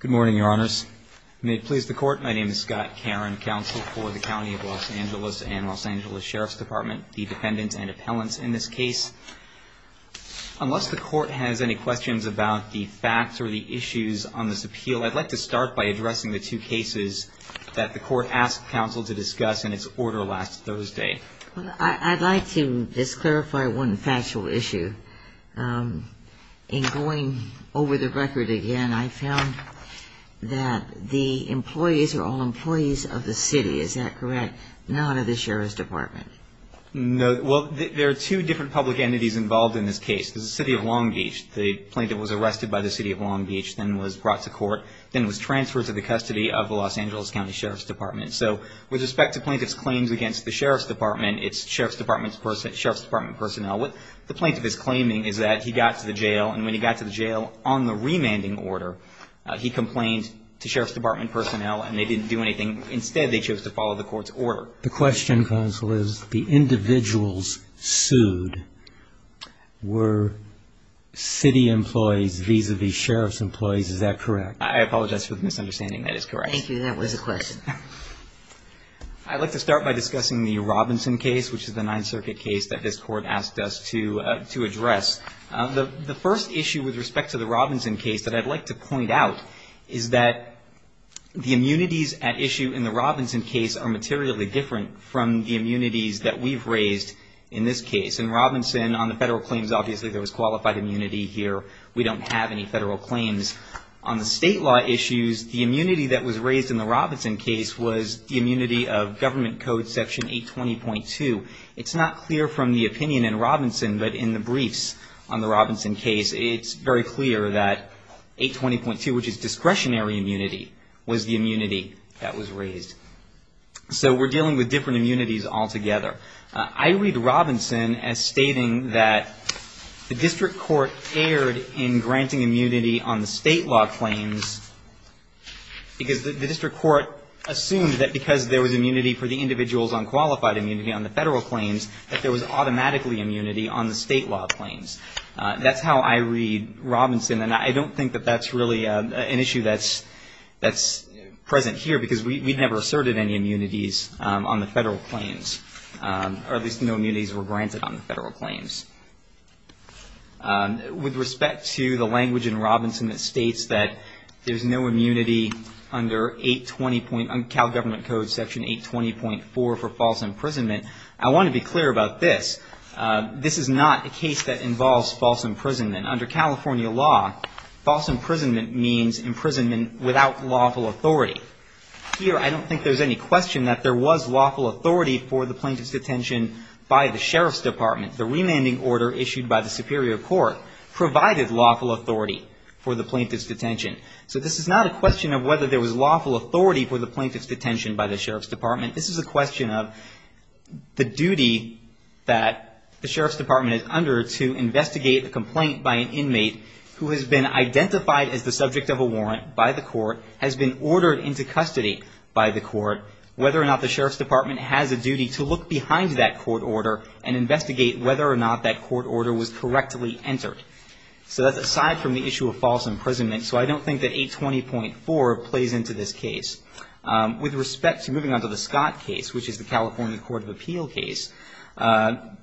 Good morning, your honors. May it please the court, my name is Scott Caron, counsel for the County of Los Angeles and Los Angeles Sheriff's Department, the defendants and appellants in this case. Unless the court has any questions about the facts or the issues on this appeal, I'd like to start by addressing the two cases that the court asked counsel to discuss in its order last Thursday. I'd like to just clarify one factual issue. In going over the record again, I found that the employees are all employees of the city, is that correct? Not of the Sheriff's Department. No, well, there are two different public entities involved in this case. The City of Long Beach, the plaintiff was arrested by the City of Long Beach, then was brought to court, then was transferred to the custody of the Los Angeles County Sheriff's Department. So with respect to plaintiff's claims against the Sheriff's Department, it's Sheriff's Department personnel. What the plaintiff is claiming is that he got to the jail and when he got to the jail on the remanding order, he complained to Sheriff's Department personnel and they didn't do anything. Instead, they chose to follow the court's order. The question, counsel, is the individuals sued were city employees vis-a-vis Sheriff's employees, is that correct? I apologize for the misunderstanding, that is correct. Thank you, that was a question. I'd like to start by discussing the Robinson case, which is the Ninth Circuit case that this Court asked us to address. The first issue with respect to the Robinson case that I'd like to point out is that the immunities at issue in the Robinson case are materially different from the immunities that we've raised in this case. In Robinson, on the federal claims, obviously there was qualified immunity here. We don't have any federal claims. On the state law issues, the immunity that was raised in the Robinson case was the immunity of Government Code Section 820.2. It's not clear from the opinion in Robinson, but in the briefs on the Robinson case, it's very clear that 820.2, which is discretionary immunity, was the immunity that was raised. So we're dealing with different immunities altogether. I read Robinson as stating that the district court erred in granting immunity on the state law claims because the district court assumed that because there was immunity for the individuals on qualified immunity on the federal claims, that there was automatically immunity on the state law claims. That's how I read Robinson, and I don't think that that's really an issue that's present here because we never asserted any immunities on the federal claims, or at least no immunities were granted on the federal claims. With respect to the language in Robinson that states that there's no immunity under 820.4 for false imprisonment, I want to be clear about this. This is not a case that involves false imprisonment. Under California law, false imprisonment means imprisonment without lawful authority. Here, I don't think there's any question that there was lawful authority for the plaintiff's detention by the sheriff's department. The remanding order issued by the superior court provided lawful authority for the plaintiff's detention. So this is not a question of whether there was lawful authority for the plaintiff's detention by the sheriff's department. This is a question of the duty that the sheriff's department is under to investigate a complaint by an inmate who has been identified as the subject of a warrant by the court, has been ordered into custody by the court, whether or not the sheriff's department has a duty to look behind that court order and investigate whether or not that court order was correctly entered. So that's aside from the issue of false imprisonment, so I don't think that 820.4 plays into this case. With respect to moving on to the Scott case, which is the California Court of Appeal case,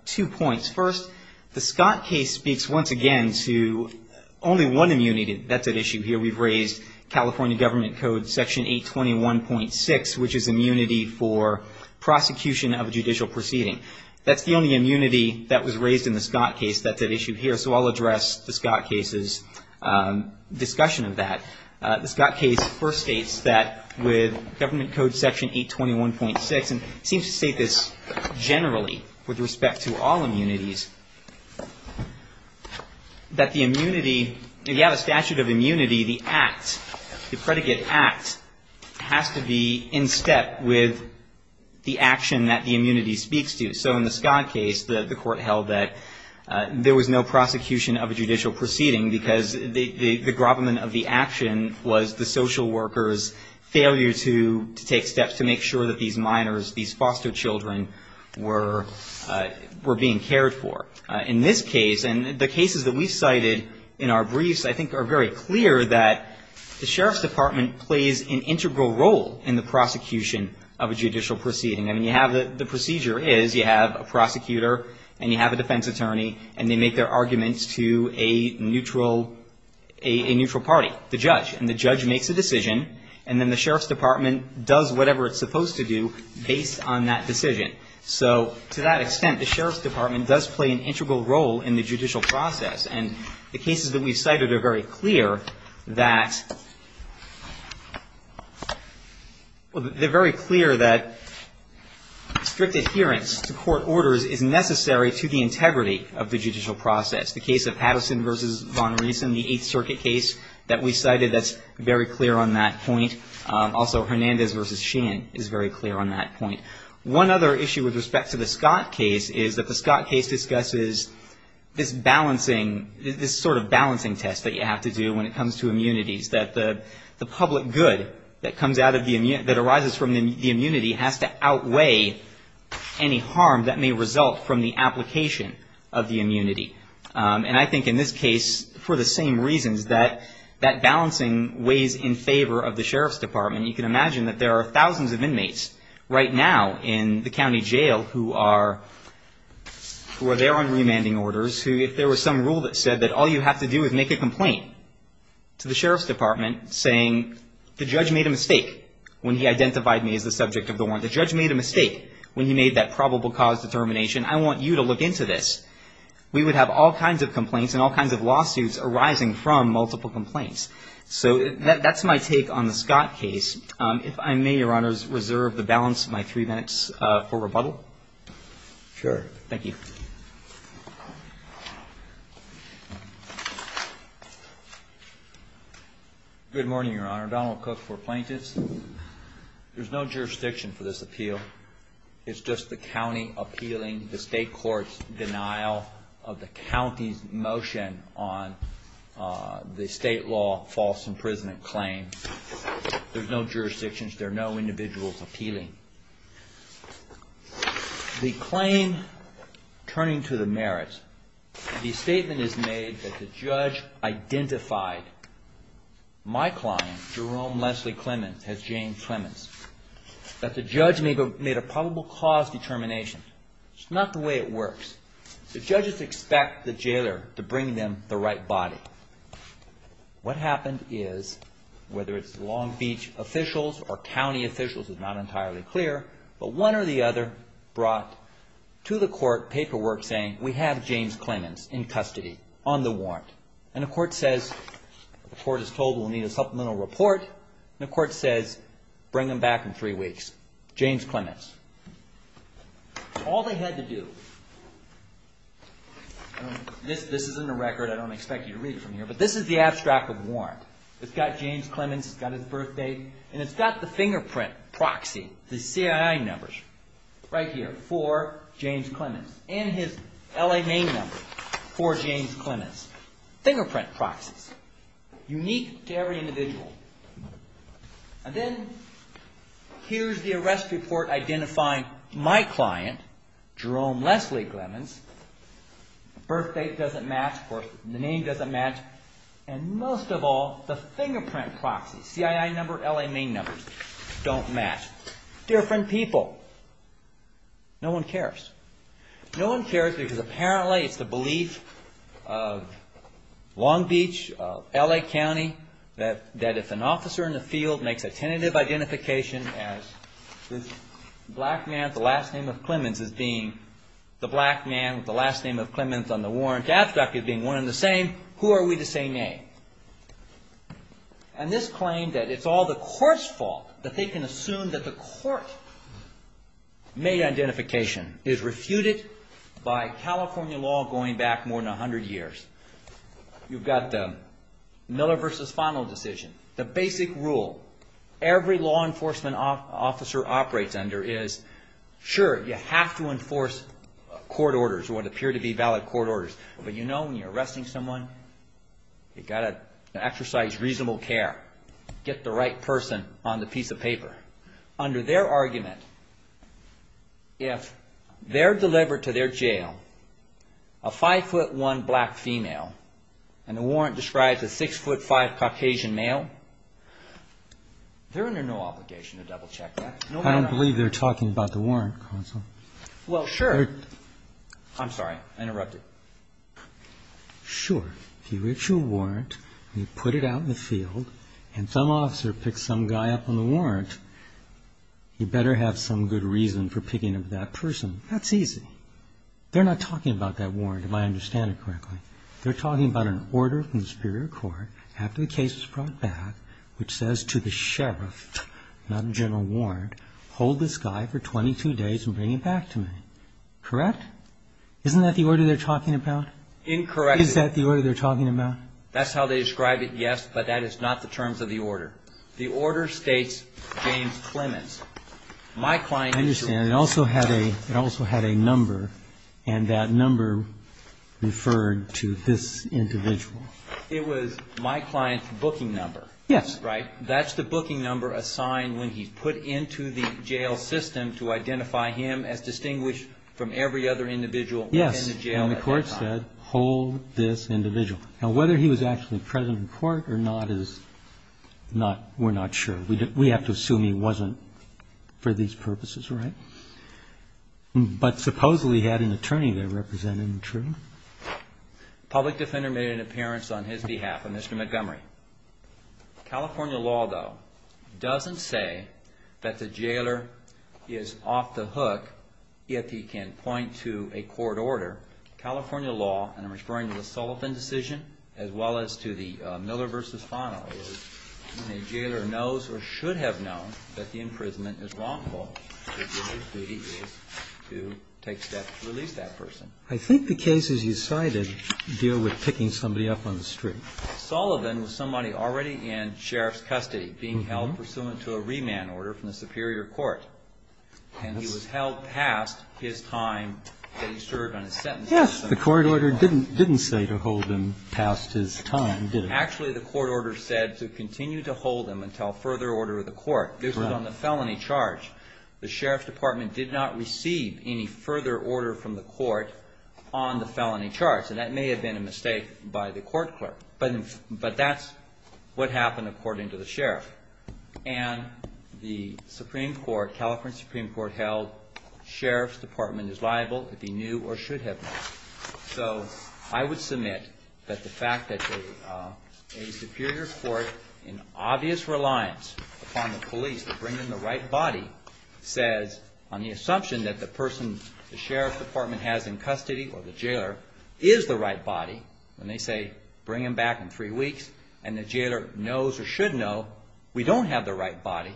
two points. First, the Scott case speaks once again to only one immunity that's at issue here. We've raised California Government Code Section 821.6, which is immunity for prosecution of a judicial proceeding. That's the only immunity that was raised in the Scott case that's at issue here, so I'll address the Scott case's discussion of that. The Scott case first states that with Government Code Section 821.6, and it seems to state this generally with respect to all immunities, that the immunity, if you have a statute of immunity, the act, the predicate act, has to be in step with the action that the immunity speaks to. So in the Scott case, the court held that there was no prosecution of a judicial proceeding because the grovelment of the action was the social worker's failure to take steps to make sure that these minors, these foster children, were being cared for. In this case, and the cases that we've cited in our briefs, I think are very clear that the sheriff's department plays an integral role in the prosecution of a judicial proceeding. I mean, you have the procedure is you have a prosecutor and you have a defense attorney, and they make their arguments to a neutral party, the judge. And the judge makes a decision, and then the sheriff's department does whatever it's supposed to do based on that decision. So to that extent, the sheriff's department does play an integral role in the judicial process. And the cases that we've cited are very clear that, well, they're very clear that strict adherence to court orders is necessary to the integrity of the judicial process. The case of Patterson v. Von Riesen, the Eighth Circuit case that we cited, that's very clear on that point. Also, Hernandez v. Sheehan is very clear on that point. One other issue with respect to the Scott case is that the Scott case discusses this balancing, this sort of balancing test that you have to do when it comes to immunities, that the public good that comes out of the, that arises from the immunity has to outweigh any harm that may result from the application of the immunity. And I think in this case, for the same reasons, that that balancing weighs in favor of the sheriff's department. You can imagine that there are thousands of inmates right now in the county jail who are, who are there on remanding orders who, if there was some rule that said that all you have to do is make a complaint to the sheriff's department saying, the judge made a mistake when he identified me as the subject of the warrant. The judge made a mistake when he made that probable cause determination. I want you to look into this. We would have all kinds of complaints and all kinds of lawsuits arising from multiple complaints. So that's my take on the Scott case. If I may, Your Honor, reserve the balance of my three minutes for rebuttal. Sure. Thank you. Good morning, Your Honor. Donald Cook for plaintiffs. There's no jurisdiction for this appeal. It's just the county appealing the state court's denial of the county's motion on the state law false imprisonment claim. There's no jurisdictions. There are no individuals appealing. The claim turning to the merits. The statement is made that the judge identified my client, Jerome Leslie Clements, as Jane Clements. That the judge made a probable cause determination. It's not the way it works. The judges expect the jailer to bring them the right body. What happened is, whether it's Long Beach officials or county officials is not entirely clear, but one or the other brought to the court paperwork saying, we have James Clements in custody on the warrant. And the court says, the court is told we'll need a supplemental report. And the court says, bring him back in three weeks. James Clements. All they had to do, this isn't a record. I don't expect you to read it from here. But this is the abstract of the warrant. It's got James Clements. It's got his birth date. And it's got the fingerprint proxy, the CII numbers, right here for James Clements. And his L.A. name number for James Clements. Fingerprint proxies. Unique to every individual. And then, here's the arrest report identifying my client, Jerome Leslie Clements. The birth date doesn't match. Of course, the name doesn't match. And most of all, the fingerprint proxy, CII number, L.A. name number, don't match. Different people. No one cares. No one cares because apparently it's the belief of Long Beach, L.A. County, that if an officer in the field makes a tentative identification as this black man with the last name of Clements as being the black man with the last name of Clements on the warrant, the abstract is being one and the same, who are we to say name? And this claim that it's all the court's fault, that they can assume that the court-made identification is refuted by California law going back more than 100 years. You've got the Miller v. Fano decision. The basic rule every law enforcement officer operates under is, sure, you have to enforce court orders or what appear to be valid court orders. But you know when you're arresting someone, you've got to exercise reasonable care. Get the right person on the piece of paper. Under their argument, if they're delivered to their jail a 5'1 black female and the warrant describes a 6'5 Caucasian male, they're under no obligation to double-check that. I don't believe they're talking about the warrant, counsel. Well, sure. I'm sorry. I interrupted. Sure. If you reach a warrant, and you put it out in the field, and some officer picks some guy up on the warrant, you better have some good reason for picking up that person. That's easy. They're not talking about that warrant, if I understand it correctly. They're talking about an order from the Superior Court after the case was brought back, which says to the sheriff, not a general warrant, hold this guy for 22 days and bring him back to me. Correct? Isn't that the order they're talking about? Incorrect. Is that the order they're talking about? That's how they describe it, yes, but that is not the terms of the order. The order states James Clements. I understand. It also had a number, and that number referred to this individual. It was my client's booking number. Yes. Right? That's the booking number assigned when he's put into the jail system to identify him as distinguished from every other individual in the jail at that time. Yes, and the court said, hold this individual. Now, whether he was actually present in court or not, we're not sure. We have to assume he wasn't for these purposes, right? But supposedly he had an attorney there representing him, true? The public defender made an appearance on his behalf, Mr. Montgomery. California law, though, doesn't say that the jailer is off the hook if he can point to a court order. California law, and I'm referring to the Sullivan decision as well as to the Miller v. Fano, when a jailer knows or should have known that the imprisonment is wrongful, his duty is to take steps to release that person. I think the cases you cited deal with picking somebody up on the street. Sullivan was somebody already in sheriff's custody, being held pursuant to a remand order from the superior court. And he was held past his time that he served on a sentence. Yes. The court order didn't say to hold him past his time, did it? Actually, the court order said to continue to hold him until further order of the court. Correct. This was on the felony charge. The sheriff's department did not receive any further order from the court on the felony charge. And that may have been a mistake by the court clerk, but that's what happened according to the sheriff. And the Supreme Court, California Supreme Court, held sheriff's department is liable if he knew or should have known. So I would submit that the fact that a superior court in obvious reliance upon the police to bring in the right body says on the assumption that the person the sheriff's department has in custody or the jailer is the right body, when they say bring him back in three weeks and the jailer knows or should know we don't have the right body,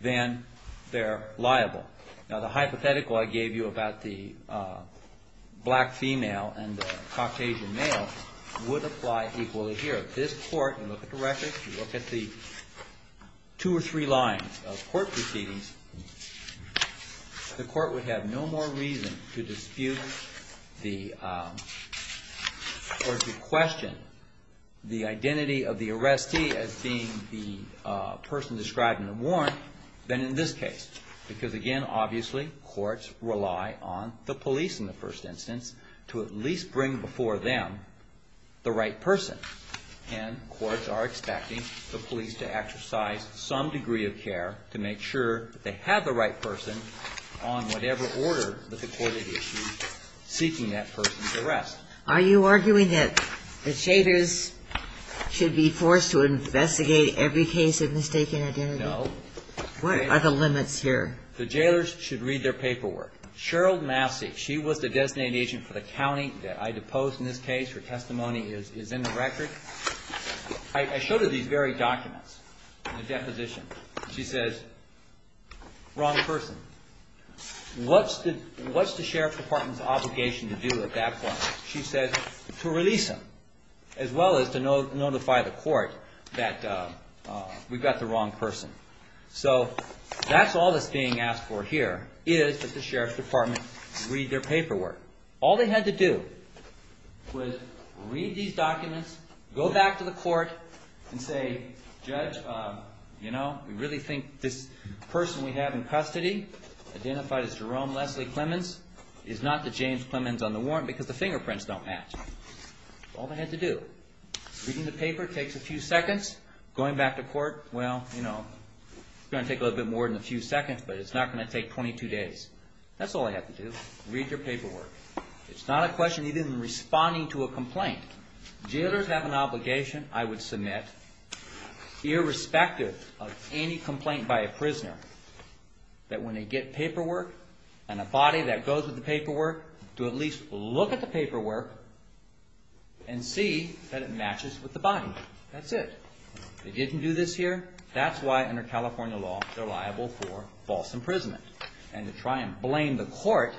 then they're liable. Now, the hypothetical I gave you about the black female and the Caucasian male would apply equally here. If you look at the record, if you look at the two or three lines of court proceedings, the court would have no more reason to dispute or to question the identity of the arrestee as being the person described in the warrant than in this case. Because, again, obviously courts rely on the police in the first instance to at least bring before them the right person. And courts are expecting the police to exercise some degree of care to make sure that they have the right person on whatever order that the court had issued seeking that person's arrest. Are you arguing that the shaders should be forced to investigate every case of mistaken identity? No. What are the limits here? The jailers should read their paperwork. Cheryl Massey, she was the designated agent for the county that I deposed in this case. Her testimony is in the record. I showed her these very documents in the deposition. She says, wrong person. What's the sheriff's department's obligation to do at that point? She says to release him as well as to notify the court that we've got the wrong person. So that's all that's being asked for here is that the sheriff's department read their paperwork. All they had to do was read these documents, go back to the court, and say, Judge, you know, we really think this person we have in custody identified as Jerome Leslie Clemens is not the James Clemens on the warrant because the fingerprints don't match. That's all they had to do. Reading the paper takes a few seconds. Going back to court, well, you know, it's going to take a little bit more than a few seconds, but it's not going to take 22 days. That's all they had to do, read their paperwork. It's not a question even in responding to a complaint. Jailers have an obligation, I would submit, irrespective of any complaint by a prisoner, that when they get paperwork and a body that goes with the paperwork, to at least look at the paperwork and see that it matches with the body. That's it. They didn't do this here. That's why under California law they're liable for false imprisonment. And to try and blame the court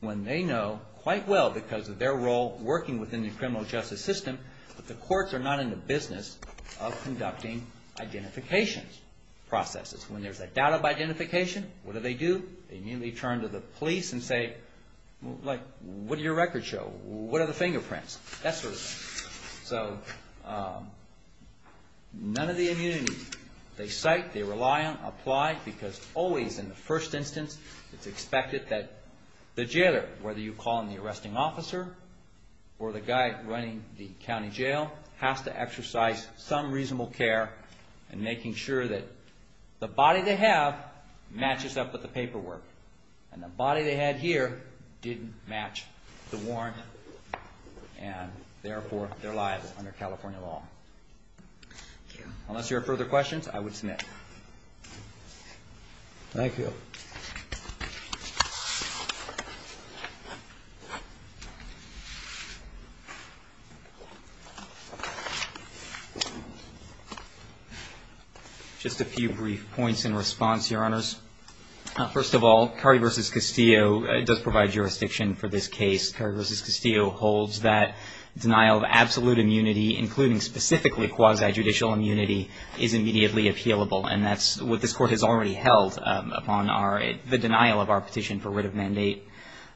when they know quite well because of their role working within the criminal justice system that the courts are not in the business of conducting identification processes. When there's a doubt of identification, what do they do? They immediately turn to the police and say, like, what did your record show? What are the fingerprints? That sort of thing. So none of the immunity they cite, they rely on, apply, because always in the first instance it's expected that the jailer, whether you call in the arresting officer or the guy running the county jail, has to exercise some reasonable care in making sure that the body they have matches up with the paperwork. And the body they had here didn't match the warrant, and therefore they're liable under California law. Thank you. Unless there are further questions, I would submit. Thank you. Just a few brief points in response, Your Honors. First of all, Cardi v. Castillo does provide jurisdiction for this case. Cardi v. Castillo holds that denial of absolute immunity, including specifically quasi-judicial immunity, is immediately appealable, and that's what this Court has already held upon the denial of our petition for writ of mandate.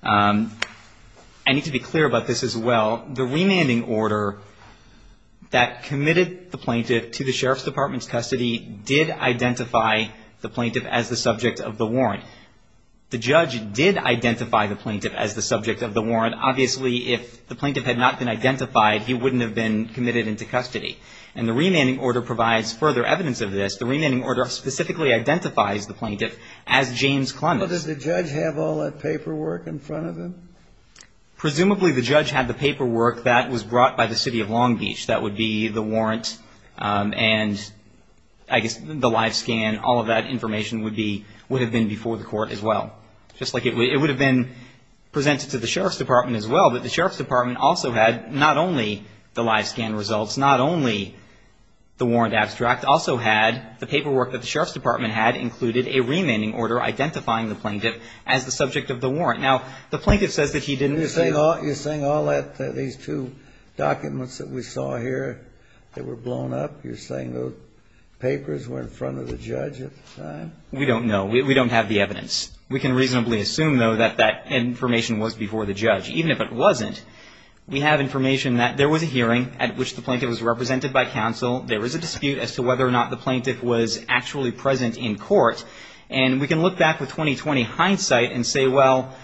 I need to be clear about this as well. The remanding order that committed the plaintiff to the Sheriff's Department's custody did identify the plaintiff as the subject of the warrant. The judge did identify the plaintiff as the subject of the warrant. Obviously, if the plaintiff had not been identified, he wouldn't have been committed into custody. And the remanding order provides further evidence of this. The remanding order specifically identifies the plaintiff as James Clements. But did the judge have all that paperwork in front of him? Presumably, the judge had the paperwork that was brought by the City of Long Beach. That would be the warrant and, I guess, the live scan. All of that information would have been before the Court as well. Just like it would have been presented to the Sheriff's Department as well, but the Sheriff's Department also had not only the live scan results, not only the warrant abstract, also had the paperwork that the Sheriff's Department had included a remanding order identifying the plaintiff as the subject of the warrant. Now, the plaintiff says that he didn't receive... You're saying all that, these two documents that we saw here, they were blown up? You're saying those papers were in front of the judge at the time? We don't know. We don't have the evidence. We can reasonably assume, though, that that information was before the judge. Even if it wasn't, we have information that there was a hearing at which the plaintiff was represented by counsel. There is a dispute as to whether or not the plaintiff was actually present in court. And we can look back with 20-20 hindsight and say, well,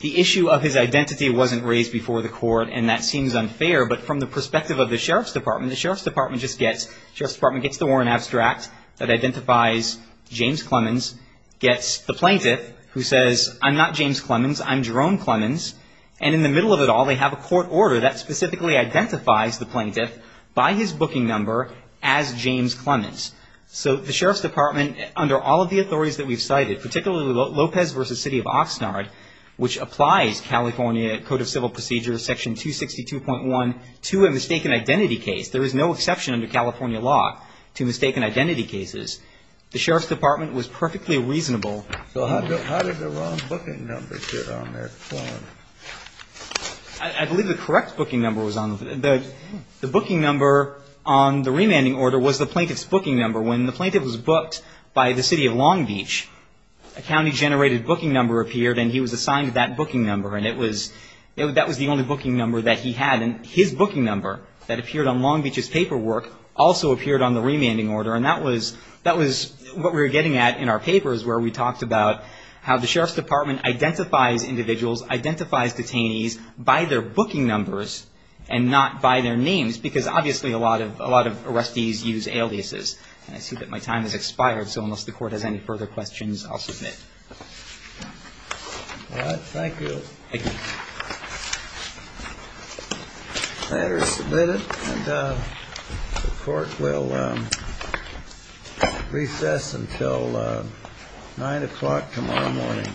the issue of his identity wasn't raised before the court, and that seems unfair. But from the perspective of the Sheriff's Department, the Sheriff's Department just gets... The Sheriff's Department gets the warrant abstract that identifies James Clemens, gets the plaintiff, who says, I'm not James Clemens, I'm Jerome Clemens, and in the middle of it all, they have a court order that specifically identifies the plaintiff by his booking number as James Clemens. So the Sheriff's Department, under all of the authorities that we've cited, particularly Lopez v. City of Oxnard, which applies California Code of Civil Procedures, Section 262.1, to a mistaken identity case. There is no exception under California law to mistaken identity cases. The Sheriff's Department was perfectly reasonable... So how did the wrong booking number get on their form? I believe the correct booking number was on the... The booking number on the remanding order was the plaintiff's booking number. When the plaintiff was booked by the City of Long Beach, a county-generated booking number appeared, and he was assigned that booking number. And that was the only booking number that he had. And his booking number that appeared on Long Beach's paperwork also appeared on the remanding order. And that was what we were getting at in our papers, where we talked about how the Sheriff's Department identifies individuals, identifies detainees by their booking numbers and not by their names, because obviously a lot of arrestees use aliases. And I see that my time has expired, so unless the Court has any further questions, I'll submit. All right. Thank you. Thank you. The matter is submitted, and the Court will recess until 9 o'clock tomorrow morning.